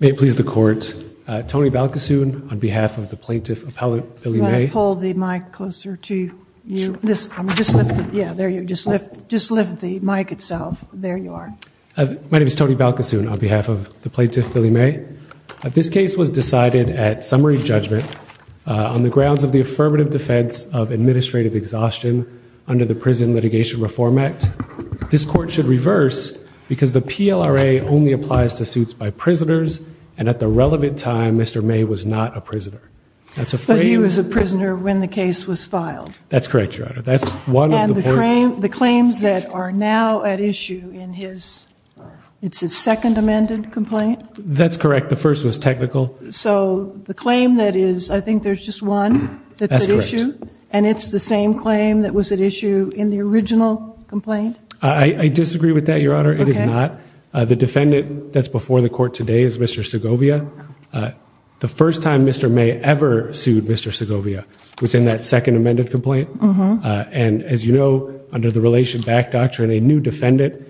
May it please the court, Tony Balkasoon on behalf of the Plaintiff Appellate Billy May. Can I pull the mic closer to you? Just lift the mic itself. There you are. My name is Tony Balkasoon on behalf of the Plaintiff Billy May. This case was decided at summary judgment on the grounds of the affirmative defense of administrative exhaustion under the Prison Litigation Reform Act. This court should reverse because the PLRA only applies to suits by prisoners and at the relevant time Mr. May was not a prisoner. But he was a prisoner when the case was filed? That's correct, your honor. That's one of the points. And the claims that are now at issue in his, it's his second amended complaint? That's correct. The first was technical. So the claim that is, I think there's just one that's at issue? That's correct. And it's the same claim that was at issue in the original complaint? I disagree with that, your honor. It is not. The defendant that's before the court today is Mr. Segovia. The first time Mr. May ever sued Mr. Segovia was in that second amended complaint. And as you know, under the Relation Back Doctrine, a new defendant,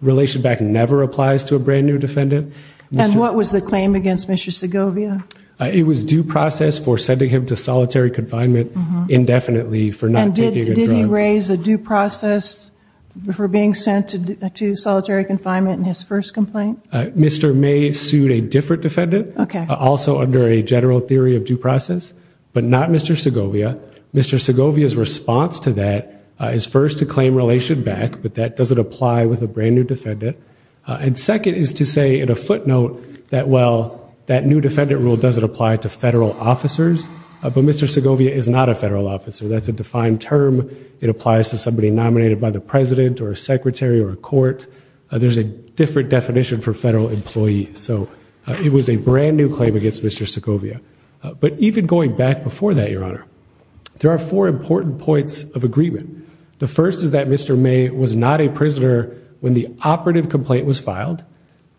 Relation Back never applies to a brand new defendant. And what was the claim against Mr. Segovia? It was due process for sending him to solitary confinement indefinitely for not taking a drug. And did he raise a due process for being sent to solitary confinement in his first complaint? Mr. May sued a different defendant, also under a general theory of due process, but not Mr. Segovia. Mr. Segovia's response to that is first to claim Relation Back, but that doesn't apply with a brand new defendant. And second is to say in a footnote that, well, that new defendant rule doesn't apply to federal officers, but Mr. Segovia is not a federal officer. That's a defined term. It applies to somebody nominated by the president or a secretary or a court. There's a different definition for federal employees. So it was a brand new claim against Mr. Segovia. But even going back before that, your honor, there are four important points of agreement. The first is that Mr. May was not a prisoner when the operative complaint was filed.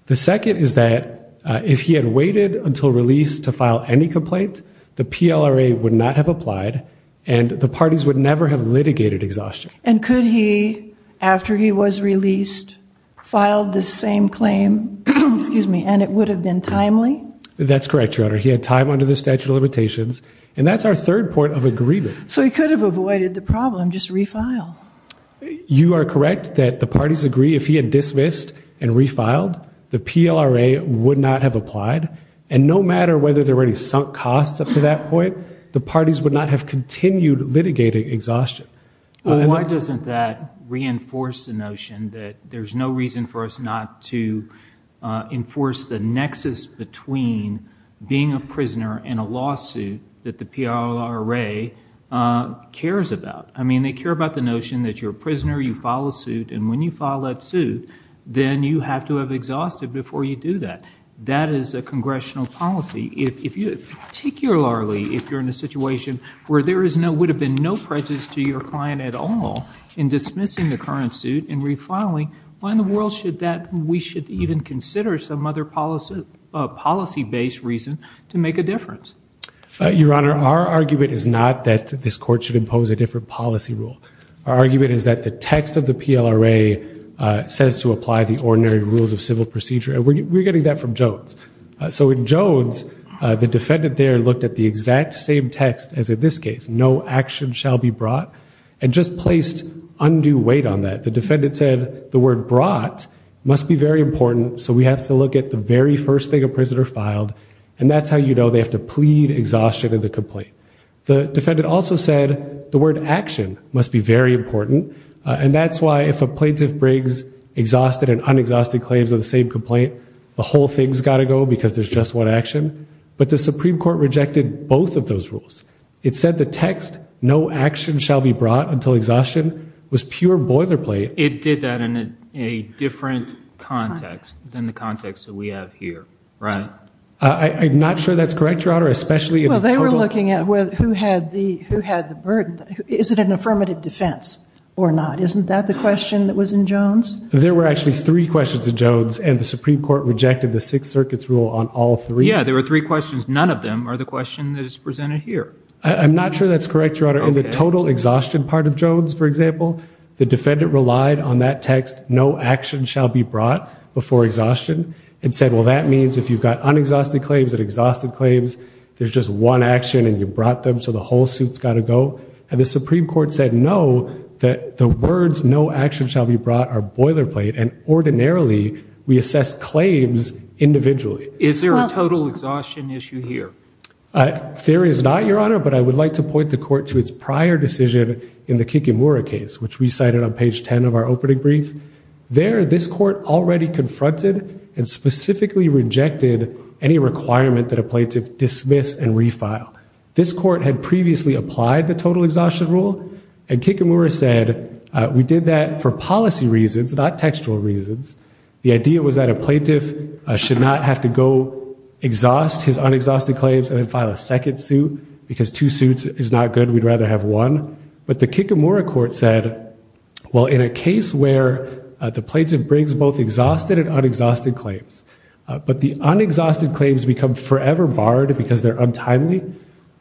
The second is that if he had waited until release to file any complaint, the PLRA would not have applied and the parties would never have litigated exhaustion. And could he, after he was released, filed the same claim, excuse me, and it would have been timely? That's correct, your honor. He had time under the statute of limitations. And that's our third point of agreement. So he could have avoided the problem, just refile. You are correct that the parties agree if he had dismissed and refiled, the PLRA would not have applied. And no matter whether there were any sunk costs up to that point, the parties would not have continued litigating exhaustion. Why doesn't that reinforce the notion that there's no reason for us not to enforce the nexus between being a prisoner and a lawsuit that the PLRA cares about? I mean, they care about the notion that you're a prisoner, you file a suit, and when you file that suit, then you have to have exhausted before you do that. That is a congressional policy. Particularly if you're in a situation where there would have been no prejudice to your client at all in dismissing the current suit and refiling, why in the world should that we should even consider some other policy-based reason to make a difference? Your Honor, our argument is not that this court should impose a different policy rule. Our argument is that the text of the PLRA says to apply the ordinary rules of civil procedure, and we're getting that from Jones. So in Jones, the defendant there looked at the exact same text as in this case, no action shall be brought, and just placed undue weight on that. The defendant said the word brought must be very important, so we have to look at the very first thing a prisoner filed, and that's how you know they have to plead exhaustion of the complaint. The defendant also said the word action must be very important, and that's why if a plaintiff brings exhausted and unexhausted claims of the same complaint, the whole thing's got to go because there's just one action. But the Supreme Court rejected both of those rules. It said the text, no action shall be brought until exhaustion, was pure boilerplate. It did that in a different context than the context that we have here, right? I'm not sure that's correct, Your Honor, especially if the total- Well, they were looking at who had the burden. Is it an affirmative defense or not? Isn't that the question that was in Jones? There were actually three questions in Jones, and the Supreme Court rejected the Sixth Circuit's rule on all three. Yeah, there were three questions. None of them are the question that is presented here. I'm not sure that's correct, Your Honor. In the total exhaustion part of Jones, for example, the defendant relied on that text, no action shall be brought before exhaustion, and said, well, that means if you've got unexhausted claims and exhausted claims, there's just one action and you brought them, so the whole suit's got to go. And the Supreme Court said, no, that the words no action shall be brought are boilerplate, and ordinarily, we assess claims individually. Is there a total exhaustion issue here? There is not, Your Honor, but I would like to point the Court to its prior decision in the Kikimura case, which we cited on page 10 of our opening brief. There, this Court already confronted and specifically rejected any requirement that a plaintiff dismiss and refile. This Court had previously applied the total exhaustion rule, and Kikimura said we did that for policy reasons, not textual reasons. The idea was that a plaintiff should not have to go exhaust his unexhausted claims and then file a second suit, because two suits is not good. We'd rather have one. But the Kikimura Court said, well, in a case where the plaintiff brings both exhausted and unexhausted claims, but the unexhausted claims become forever barred because they're untimely,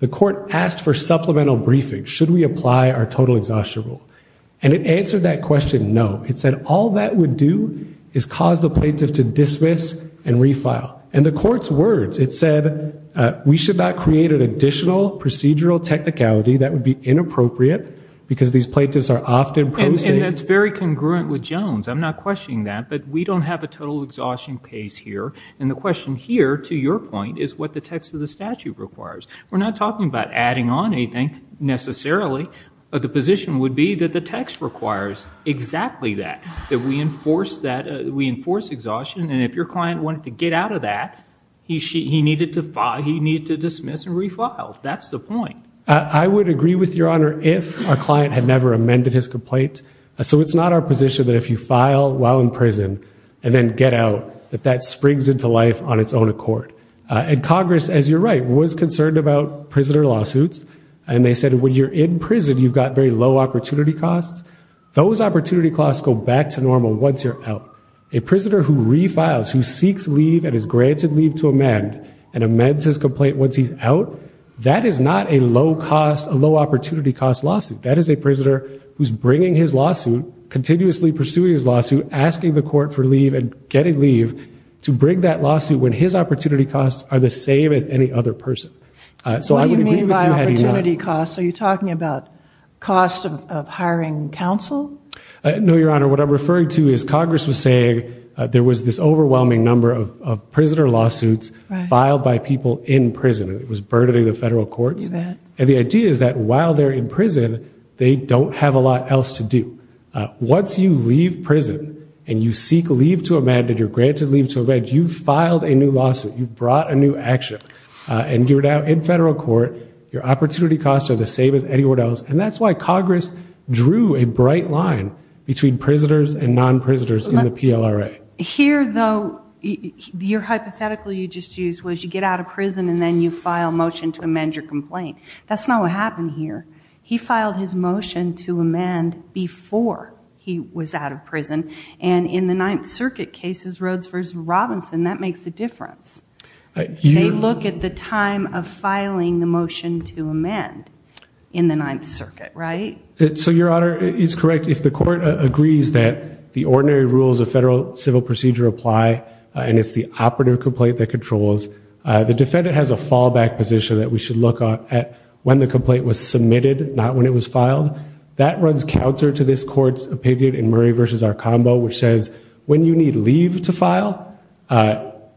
the Court asked for supplemental briefing. Should we apply our total exhaustion rule? And it answered that question, no. It said all that would do is cause the plaintiff to dismiss and refile. And the Court's words, it said, we should not create an additional procedural technicality that would be inappropriate, because these plaintiffs are often prosaic. And that's very congruent with Jones. I'm not questioning that, but we don't have a total exhaustion case here. And the question here, to your point, is what the text of the statute requires. We're not talking about adding on anything, necessarily. But the position would be that the text requires exactly that, that we enforce that, we enforce exhaustion. And if your client wanted to get out of that, he needed to dismiss and refile. That's the point. I would agree with your Honor, if our client had never amended his complaint. So it's not our position that if you file while in prison, and then get out, that that springs into life on its own accord. And Congress, as you're right, was concerned about prisoner lawsuits. And they said, when you're in prison, you've got very low opportunity costs. Those opportunity costs go back to normal once you're out. A prisoner who refiles, who seeks leave and is granted leave to amend, and amends his complaint once he's out, that is not a low cost, a low opportunity cost lawsuit. That is a prisoner who's bringing his lawsuit, continuously pursuing his lawsuit, asking the court for leave, and getting leave to bring that lawsuit when his opportunity costs are the same as any other person. So I would agree with you had he not. What do you mean by opportunity costs? Are you talking about cost of hiring counsel? No, Your Honor. What I'm referring to is Congress was saying there was this overwhelming number of prisoner lawsuits filed by people in prison. It was burdening the federal courts. You bet. And the idea is that while they're in prison, they don't have a lot else to do. Once you leave prison, and you seek leave to amend, and you're granted leave to amend, you've filed a new lawsuit. You've brought a new action. And you're now in federal court. Your opportunity costs are the same as anywhere else. And that's why Congress drew a bright line between prisoners and non-prisoners in the PLRA. Here, though, your hypothetical you just used was you get out of prison and then you file a motion to amend your complaint. That's not what happened here. He filed his motion to amend before he was out of prison. And in the Ninth Circuit cases, Rhodes v. Robinson, that makes a difference. They look at the time of filing the motion to amend in the Ninth Circuit, right? So your honor, it's correct. If the court agrees that the ordinary rules of federal civil procedure apply, and it's the operative complaint that controls, the defendant has a fallback position that we should look at when the complaint was submitted, not when it was filed. That runs counter to this court's opinion in Murray v. Arcombo, which says when you need leave to file,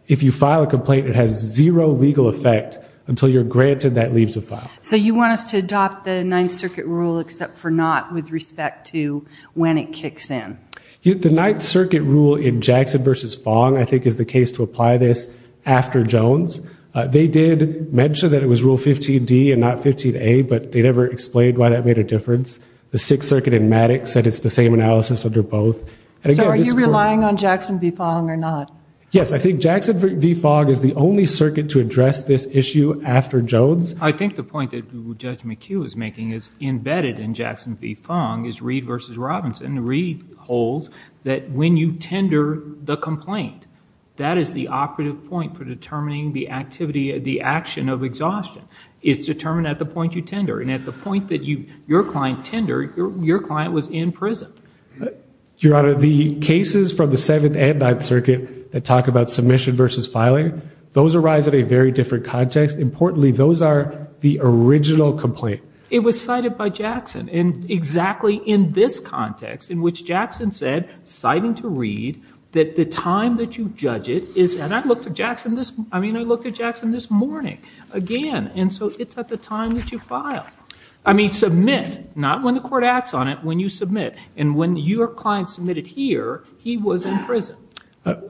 if you file a complaint, it has zero legal effect until you're granted that leave to file. So you want us to adopt the Ninth Circuit rule except for not with respect to when it kicks in? The Ninth Circuit rule in Jackson v. Fong, I think, is the case to apply this after Jones. They did mention that it was Rule 15d and not 15a, but they never explained why that made a difference. The Sixth Circuit in Maddox said it's the same analysis under both. So are you relying on Jackson v. Fong or not? Yes, I think Jackson v. Fong is the only circuit to address this issue after Jones. I think the point that Judge McHugh is making is embedded in Jackson v. Fong is Reed v. Robinson. Reed holds that when you tender the complaint, that is the operative point for determining the activity, the action of exhaustion. It's determined at the point you tender, and at the point that your client tendered, your client was in prison. Your Honor, the cases from the Seventh and Ninth Circuit that talk about submission versus filing, those arise at a very different context. Importantly, those are the original complaint. It was cited by Jackson, and exactly in this context in which Jackson said, citing to Reed, that the time that you judge it is, and I looked at Jackson this morning again, and so it's at the time that you file. I mean, submit, not when the court acts on it, when you submit. And when your client submitted here, he was in prison.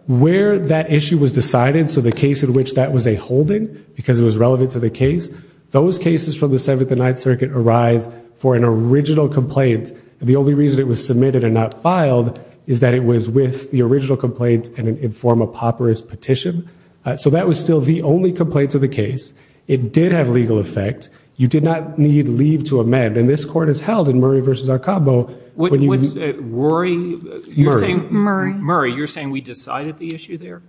Where that issue was decided, so the case in which that was a holding, because it was relevant to the case, those cases from the Seventh and Ninth Circuit arise for an original complaint. The only reason it was submitted and not filed is that it was with the original complaint in a form of papyrus petition. So that was still the only complaint of the case. It did have legal effect. You did not need leave to amend. And this Court has held in Murray v. Arcabo, when you Murray, you're saying we decided the issue there?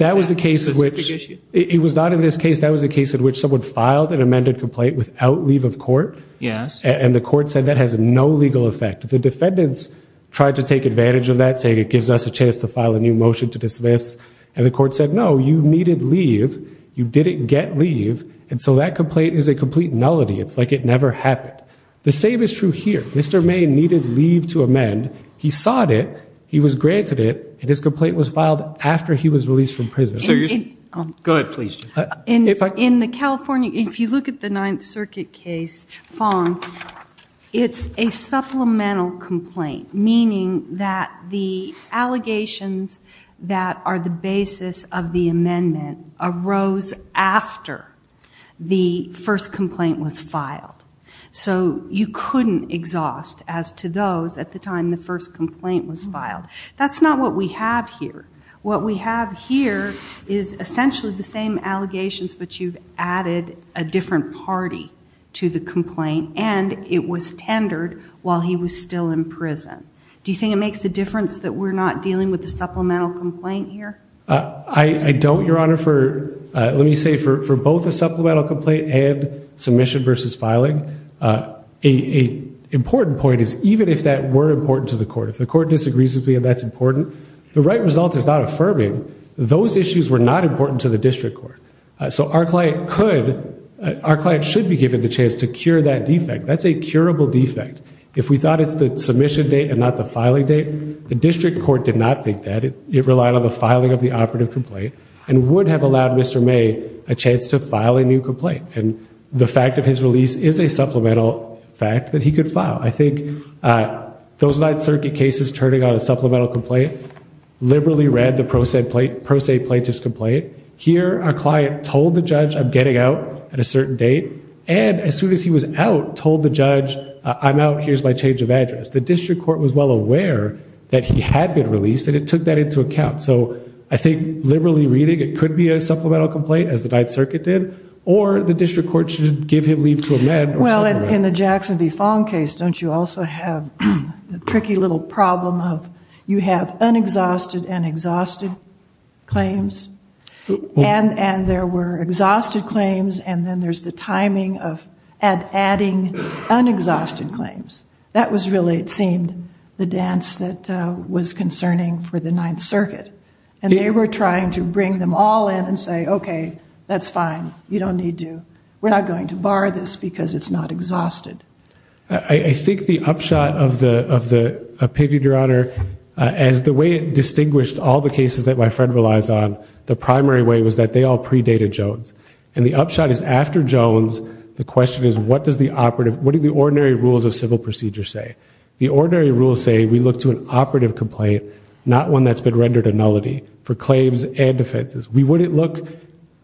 That was a case in which, it was not in this case, that was a case in which someone filed an amended complaint without leave of court, and the court said that has no legal effect. The defendants tried to take advantage of that, saying it gives us a chance to file a new motion to dismiss, and the court said, no, you needed leave, you didn't get leave, and so that complaint is a complete nullity. It's like it never happened. The same is true here. Mr. May needed leave to amend. He sought it, he was granted it, and his complaint was filed after he was released from prison. Go ahead, please. In the California, if you look at the Ninth Circuit case, Fong, it's a supplemental complaint, meaning that the allegations that are the basis of the amendment arose after the first complaint was filed. So you couldn't exhaust as to those at the time the first complaint was filed. That's not what we have here. What we have here is essentially the same allegations, but you've added a different party to the complaint, and it was tendered while he was still in prison. Do you think it makes a difference that we're not dealing with a supplemental complaint here? I don't, Your Honor. Let me say, for both the supplemental complaint and submission versus filing, an important point is even if that weren't important to the court, if the court disagrees with me and that's important, the right result is not affirming. Those issues were not important to the district court. So our client should be given the chance to cure that defect. That's a curable defect. If we thought it's the submission date and not the filing date, the district court did not think that. It relied on the filing of the operative complaint and would have allowed Mr. May a chance to file a new complaint. And the fact of his release is a supplemental fact that he could file. I think those Ninth Circuit cases turning on a supplemental complaint liberally read the pro se plaintiff's complaint. Here our client told the judge, I'm getting out at a certain date. And as soon as he was out, told the judge, I'm out. Here's my change of address. The district court was well aware that he had been released and it took that into account. So I think liberally reading it could be a supplemental complaint, as the Ninth Circuit did, or the district court should give him leave to amend. Well, in the Jackson v. Fong case, don't you also have a tricky little problem of you have unexhausted and exhausted claims? And there were exhausted claims and then there's the case that was concerning for the Ninth Circuit. And they were trying to bring them all in and say, okay, that's fine. You don't need to, we're not going to bar this because it's not exhausted. I think the upshot of the opinion, Your Honor, as the way it distinguished all the cases that my friend relies on, the primary way was that they all predated Jones. And the upshot is after Jones, the question is, what does the operative, what do the ordinary rules of civil procedure say? The ordinary rules say we look to an operative complaint, not one that's been rendered a nullity for claims and defenses. We wouldn't look,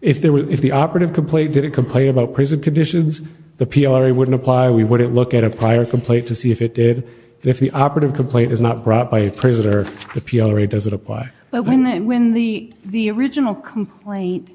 if the operative complaint didn't complain about prison conditions, the PLRA wouldn't apply. We wouldn't look at a prior complaint to see if it did. And if the operative complaint is not brought by a prisoner, the PLRA doesn't apply. But when the original complaint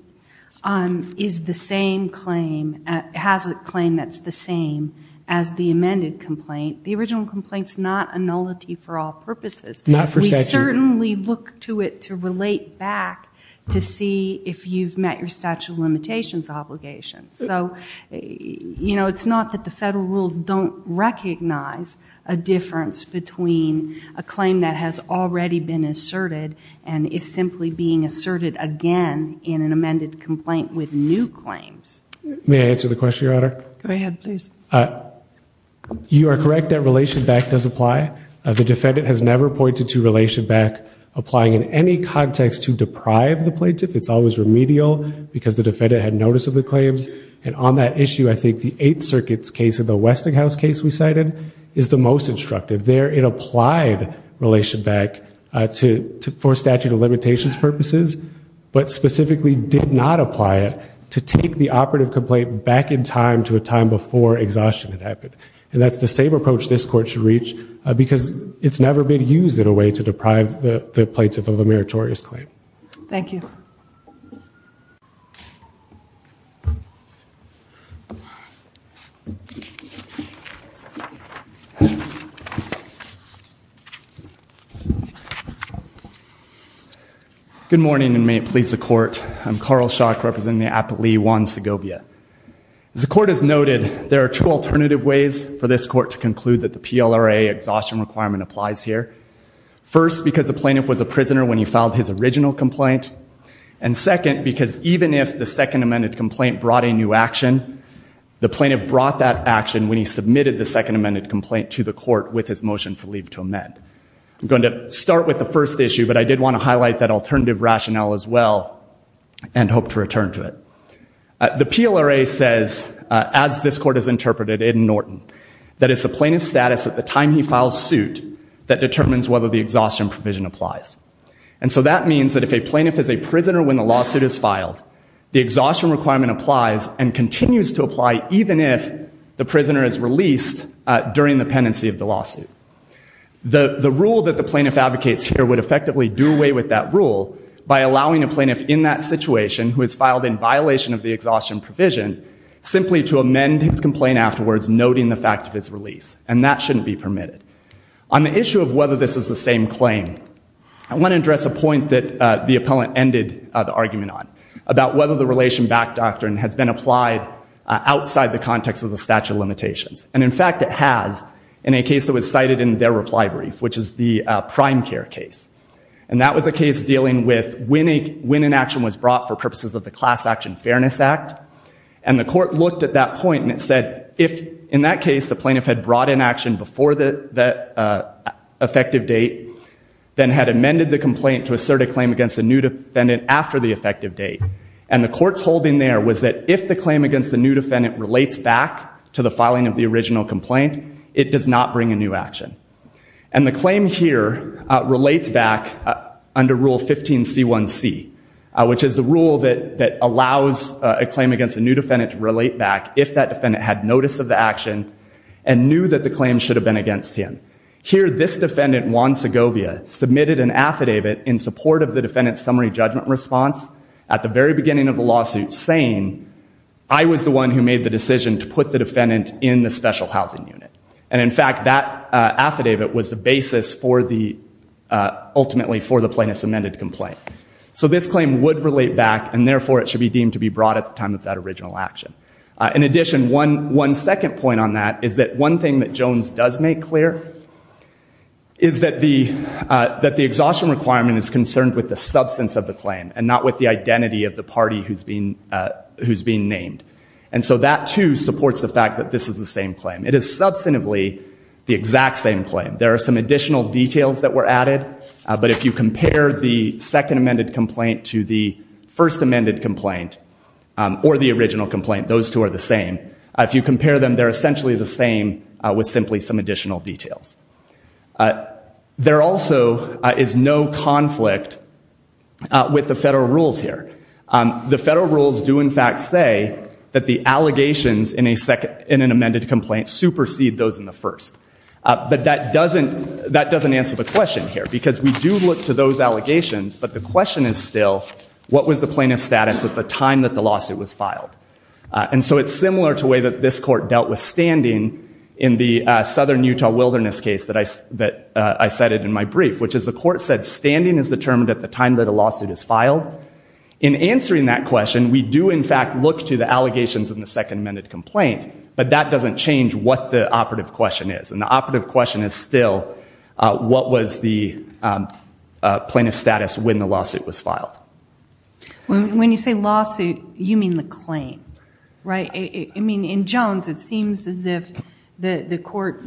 is the same claim, has a claim that's the same as the original complaint, the original complaint's not a nullity for all purposes. We certainly look to it to relate back to see if you've met your statute of limitations obligation. So, you know, it's not that the federal rules don't recognize a difference between a claim that has already been asserted and is simply being asserted again in an amended complaint with new claims. May I answer the question, Your Honor? Go ahead, please. You are correct that relation back does apply. The defendant has never pointed to relation back applying in any context to deprive the plaintiff. It's always remedial because the defendant had notice of the claims. And on that issue, I think the Eighth Circuit's case of the Westinghouse case we cited is the most instructive. There, it applied relation back for statute of limitations purposes, but specifically did not apply it to take the operative complaint back in time to a time before exhaustion had happened. And that's the same approach this court should reach because it's never been used in a way to deprive the plaintiff of a meritorious claim. Thank you. Good morning, and may it please the court. I'm Carl Schock, representing the appellee Juan Segovia. As the court has noted, there are two alternative ways for this court to conclude that the PLRA exhaustion requirement applies here. First, because the plaintiff was a prisoner when he filed his original complaint. And second, because even if the second amended complaint brought a new action, the plaintiff brought that action when he submitted the second amended complaint to the court with his motion for leave to amend. I'm going to start with the first issue, but I did want to highlight that alternative rationale as well and hope to return to it. The PLRA says, as this court has interpreted in Norton, that it's the plaintiff's status at the time he files suit that determines whether the exhaustion provision applies. And so that means that if a plaintiff is a prisoner when the lawsuit is filed, the exhaustion requirement applies and continues to apply even if the rule that the plaintiff advocates here would effectively do away with that rule by allowing a plaintiff in that situation who has filed in violation of the exhaustion provision simply to amend his complaint afterwards, noting the fact of his release. And that shouldn't be permitted. On the issue of whether this is the same claim, I want to address a point that the appellant ended the argument on, about whether the relation back doctrine has been applied outside the context of the statute of limitations. And in fact, it has in a case that was cited in their reply brief, which is the prime care case. And that was a case dealing with when an action was brought for purposes of the Class Action Fairness Act. And the court looked at that point and it said, if in that case the plaintiff had brought in action before the effective date, then had amended the complaint to assert a claim against a new defendant after the effective date. And the court's holding there was that if the claim against the new defendant relates back to the filing of the original complaint, it does not bring a new action. And the claim here relates back under Rule 15C1C, which is the rule that allows a claim against a new defendant to relate back if that defendant had notice of the action and knew that the claim should have been against him. Here this defendant, Juan Segovia, submitted an affidavit in support of the defendant's summary judgment response at the very beginning of the lawsuit saying, I was the one who made the decision to put the defendant in the special housing unit. And in fact, that affidavit was the basis for the, ultimately for the plaintiff's amended complaint. So this claim would relate back and therefore it should be deemed to be brought at the time of that original action. In addition, one second point on that is that one thing that Jones does make clear is that the exhaustion requirement is concerned with the substance of the claim and not with the the fact that this is the same claim. It is substantively the exact same claim. There are some additional details that were added. But if you compare the second amended complaint to the first amended complaint or the original complaint, those two are the same. If you compare them, they're essentially the same with simply some additional details. There also is no conflict with the federal rules here. The federal rules do in fact say that the allegations in an amended complaint supersede those in the first. But that doesn't answer the question here because we do look to those allegations, but the question is still what was the plaintiff's status at the time that the lawsuit was filed? And so it's similar to the way that this court dealt with standing in the Southern Utah Wilderness case that I cited in my brief, which is the court said standing is determined at the time that the lawsuit is filed. In answering that question, we do in fact look to the allegations in the second amended complaint, but that doesn't change what the operative question is. And the operative question is still what was the plaintiff's status when the lawsuit was filed? When you say lawsuit, you mean the claim, right? I mean, in Jones, it seems as if the court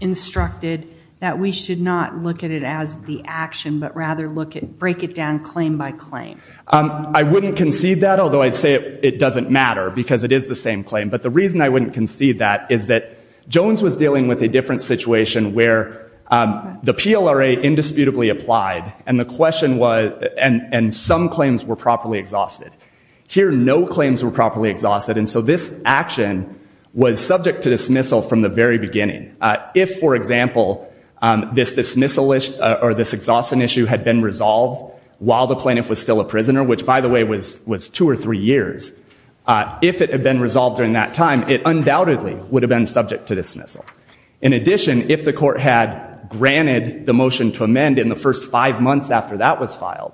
instructed that we should not look at it as the action, but rather look at, break it down claim by claim. I wouldn't concede that, although I'd say it doesn't matter because it is the same claim. But the reason I wouldn't concede that is that Jones was dealing with a different situation where the PLRA indisputably applied and the question was, and some claims were properly exhausted. Here, no claims were properly exhausted. And so this action was subject to dismissal from the very beginning. If, for example, this dismissal issue or this while the plaintiff was still a prisoner, which by the way was two or three years, if it had been resolved during that time, it undoubtedly would have been subject to dismissal. In addition, if the court had granted the motion to amend in the first five months after that was filed,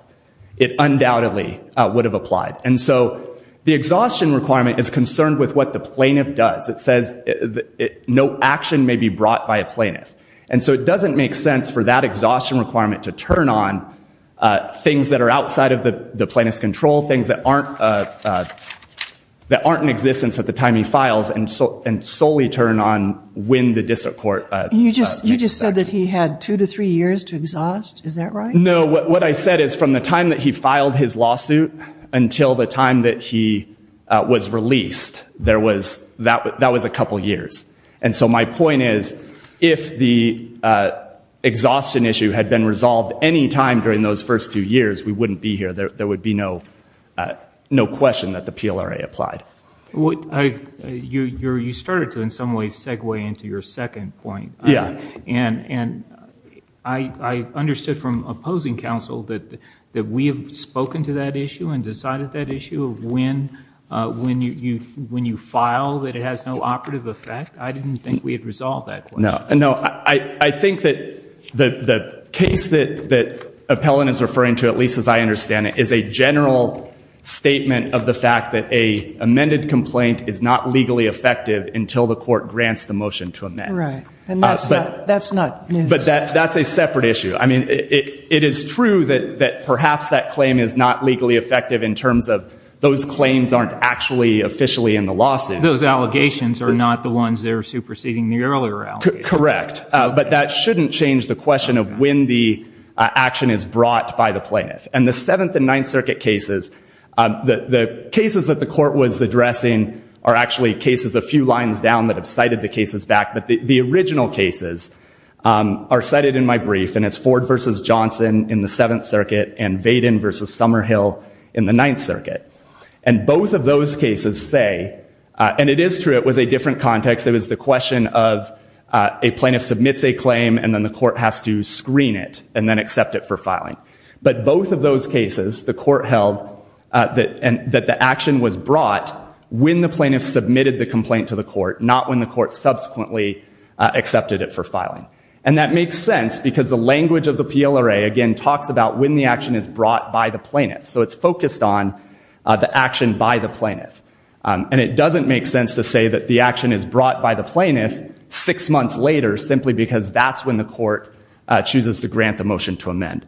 it undoubtedly would have applied. And so the exhaustion requirement is concerned with what the plaintiff does. It says no action may be brought by a plaintiff. And so it doesn't make sense for that exhaustion requirement to turn on things that are outside of the plaintiff's control, things that aren't in existence at the time he files and solely turn on when the district court makes a decision. You just said that he had two to three years to exhaust. Is that right? No. What I said is from the time that he filed his lawsuit until the time that he was released, there was, that was a couple years. And so my point is, if the exhaustion issue had been resolved any time during those first two years, we wouldn't be here. There would be no question that the PLRA applied. You started to in some ways segue into your second point, and I understood from opposing counsel that we have spoken to that issue and decided that issue of when you file that it has no operative effect. I didn't think we had resolved that question. No. I think that the case that Appellant is referring to, at least as I understand it, is a general statement of the fact that a amended complaint is not legally effective until the court grants the motion to amend. Right. And that's not new. But that's a separate issue. I mean, it is true that perhaps that claim is not legally effective in terms of those claims aren't actually officially in the lawsuit. Those allegations are not the ones that are superseding the earlier allegations. Correct. But that shouldn't change the question of when the action is brought by the plaintiff. And the Seventh and Ninth Circuit cases, the cases that the court was addressing are actually cases a few lines down that have cited the cases back, but the original cases are cited in my brief, and it's Ford v. Johnson in the Seventh Circuit and Vaden v. Summerhill in the Ninth Circuit. And both of those cases say, and it is true it was a different context, it was the question of a plaintiff submits a claim and then the court has to screen it and then accept it for filing. But both of those cases, the court held that the action was brought when the plaintiff submitted the complaint to the court, not when the court subsequently accepted it for filing. And that makes sense because the language of the PLRA, again, talks about when the action is brought by the plaintiff. So it's focused on the action by the plaintiff. And it doesn't make sense to say that the action is brought by the plaintiff six months later simply because that's when the court chooses to grant the motion to amend.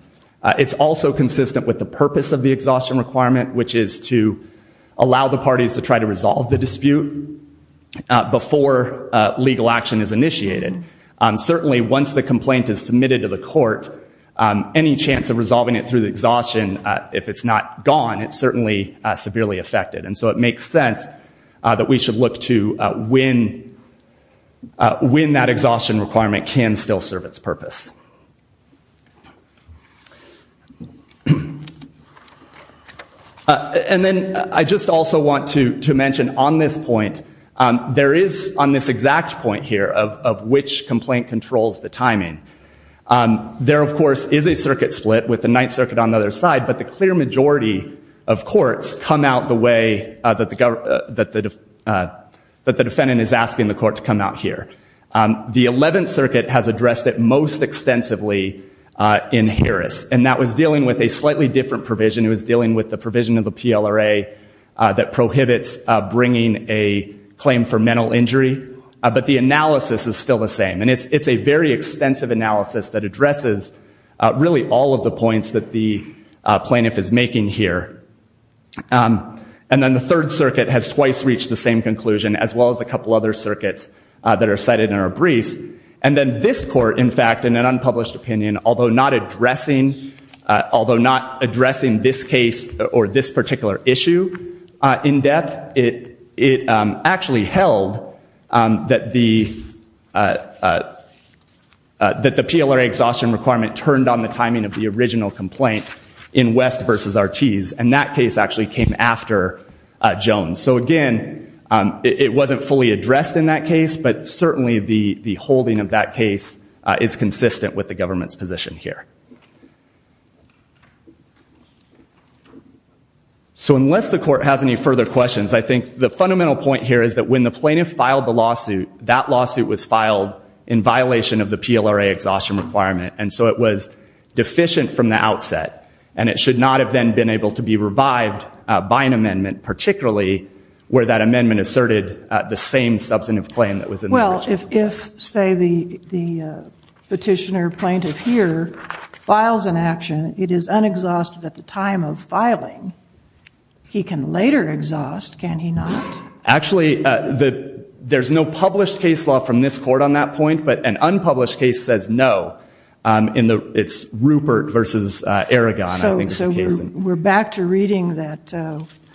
It's also consistent with the purpose of the exhaustion requirement, which is to allow the parties to try to resolve the dispute before legal action is initiated. Certainly once the complaint is submitted to the court, any chance of resolving it through the exhaustion, if it's not gone, it's certainly severely affected. And so it makes sense that we should look to when that exhaustion requirement can still serve its purpose. And then I just also want to mention on this point, there is on this exact point here of which complaint controls the timing. There, of course, is a circuit split with the Ninth Circuit on the other side, but the clear majority of courts come out the way that the defendant is asking the court to come out here. The Eleventh Circuit has addressed it most extensively in Harris, and that was dealing with a slightly different provision. It was dealing with the provision of the PLRA that prohibits bringing a claim for mental injury, but the analysis is still the same. And it's a very extensive analysis that addresses really all of the points that the plaintiff is making here. And then the Third Circuit has twice reached the same conclusion, as well as a couple other circuits that are cited in our briefs. And then this court, in fact, in an unpublished opinion, although not addressing this case or this particular issue in depth, it actually held that the PLRA exhaustion requirement turned on the timing of the original complaint in West v. Ortiz, and that case actually came after Jones. So again, it wasn't fully addressed in that case, but certainly the holding of that case is consistent with the government's position here. So unless the court has any further questions, I think the fundamental point here is that when the plaintiff filed the lawsuit, that lawsuit was filed in violation of the PLRA exhaustion requirement, and so it was deficient from the outset. And it should not have then been able to be revived by an amendment, particularly where that amendment asserted the same substantive claim that was in the original. Well, if, say, the petitioner plaintiff here files an action, it is unexhausted at the time of filing. He can later exhaust, can he not? Actually, there's no published case law from this court on that point, but an unpublished case says no. It's Rupert v. Aragon, I think, is the case. So we're back to reading that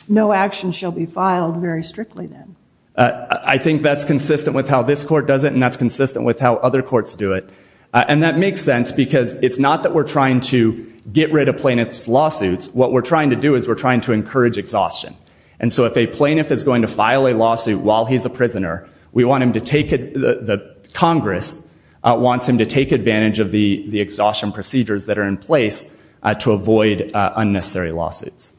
no action shall be filed very strictly then. I think that's consistent with how this court does it, and that's consistent with how other courts do it. And that makes sense because it's not that we're trying to get rid of plaintiff's lawsuits. What we're trying to do is we're trying to encourage exhaustion. And so if a plaintiff is going to file a lawsuit while he's a prisoner, we want him to take it, the Congress wants him to take advantage of the exhaustion procedures that are in place to avoid unnecessary lawsuits.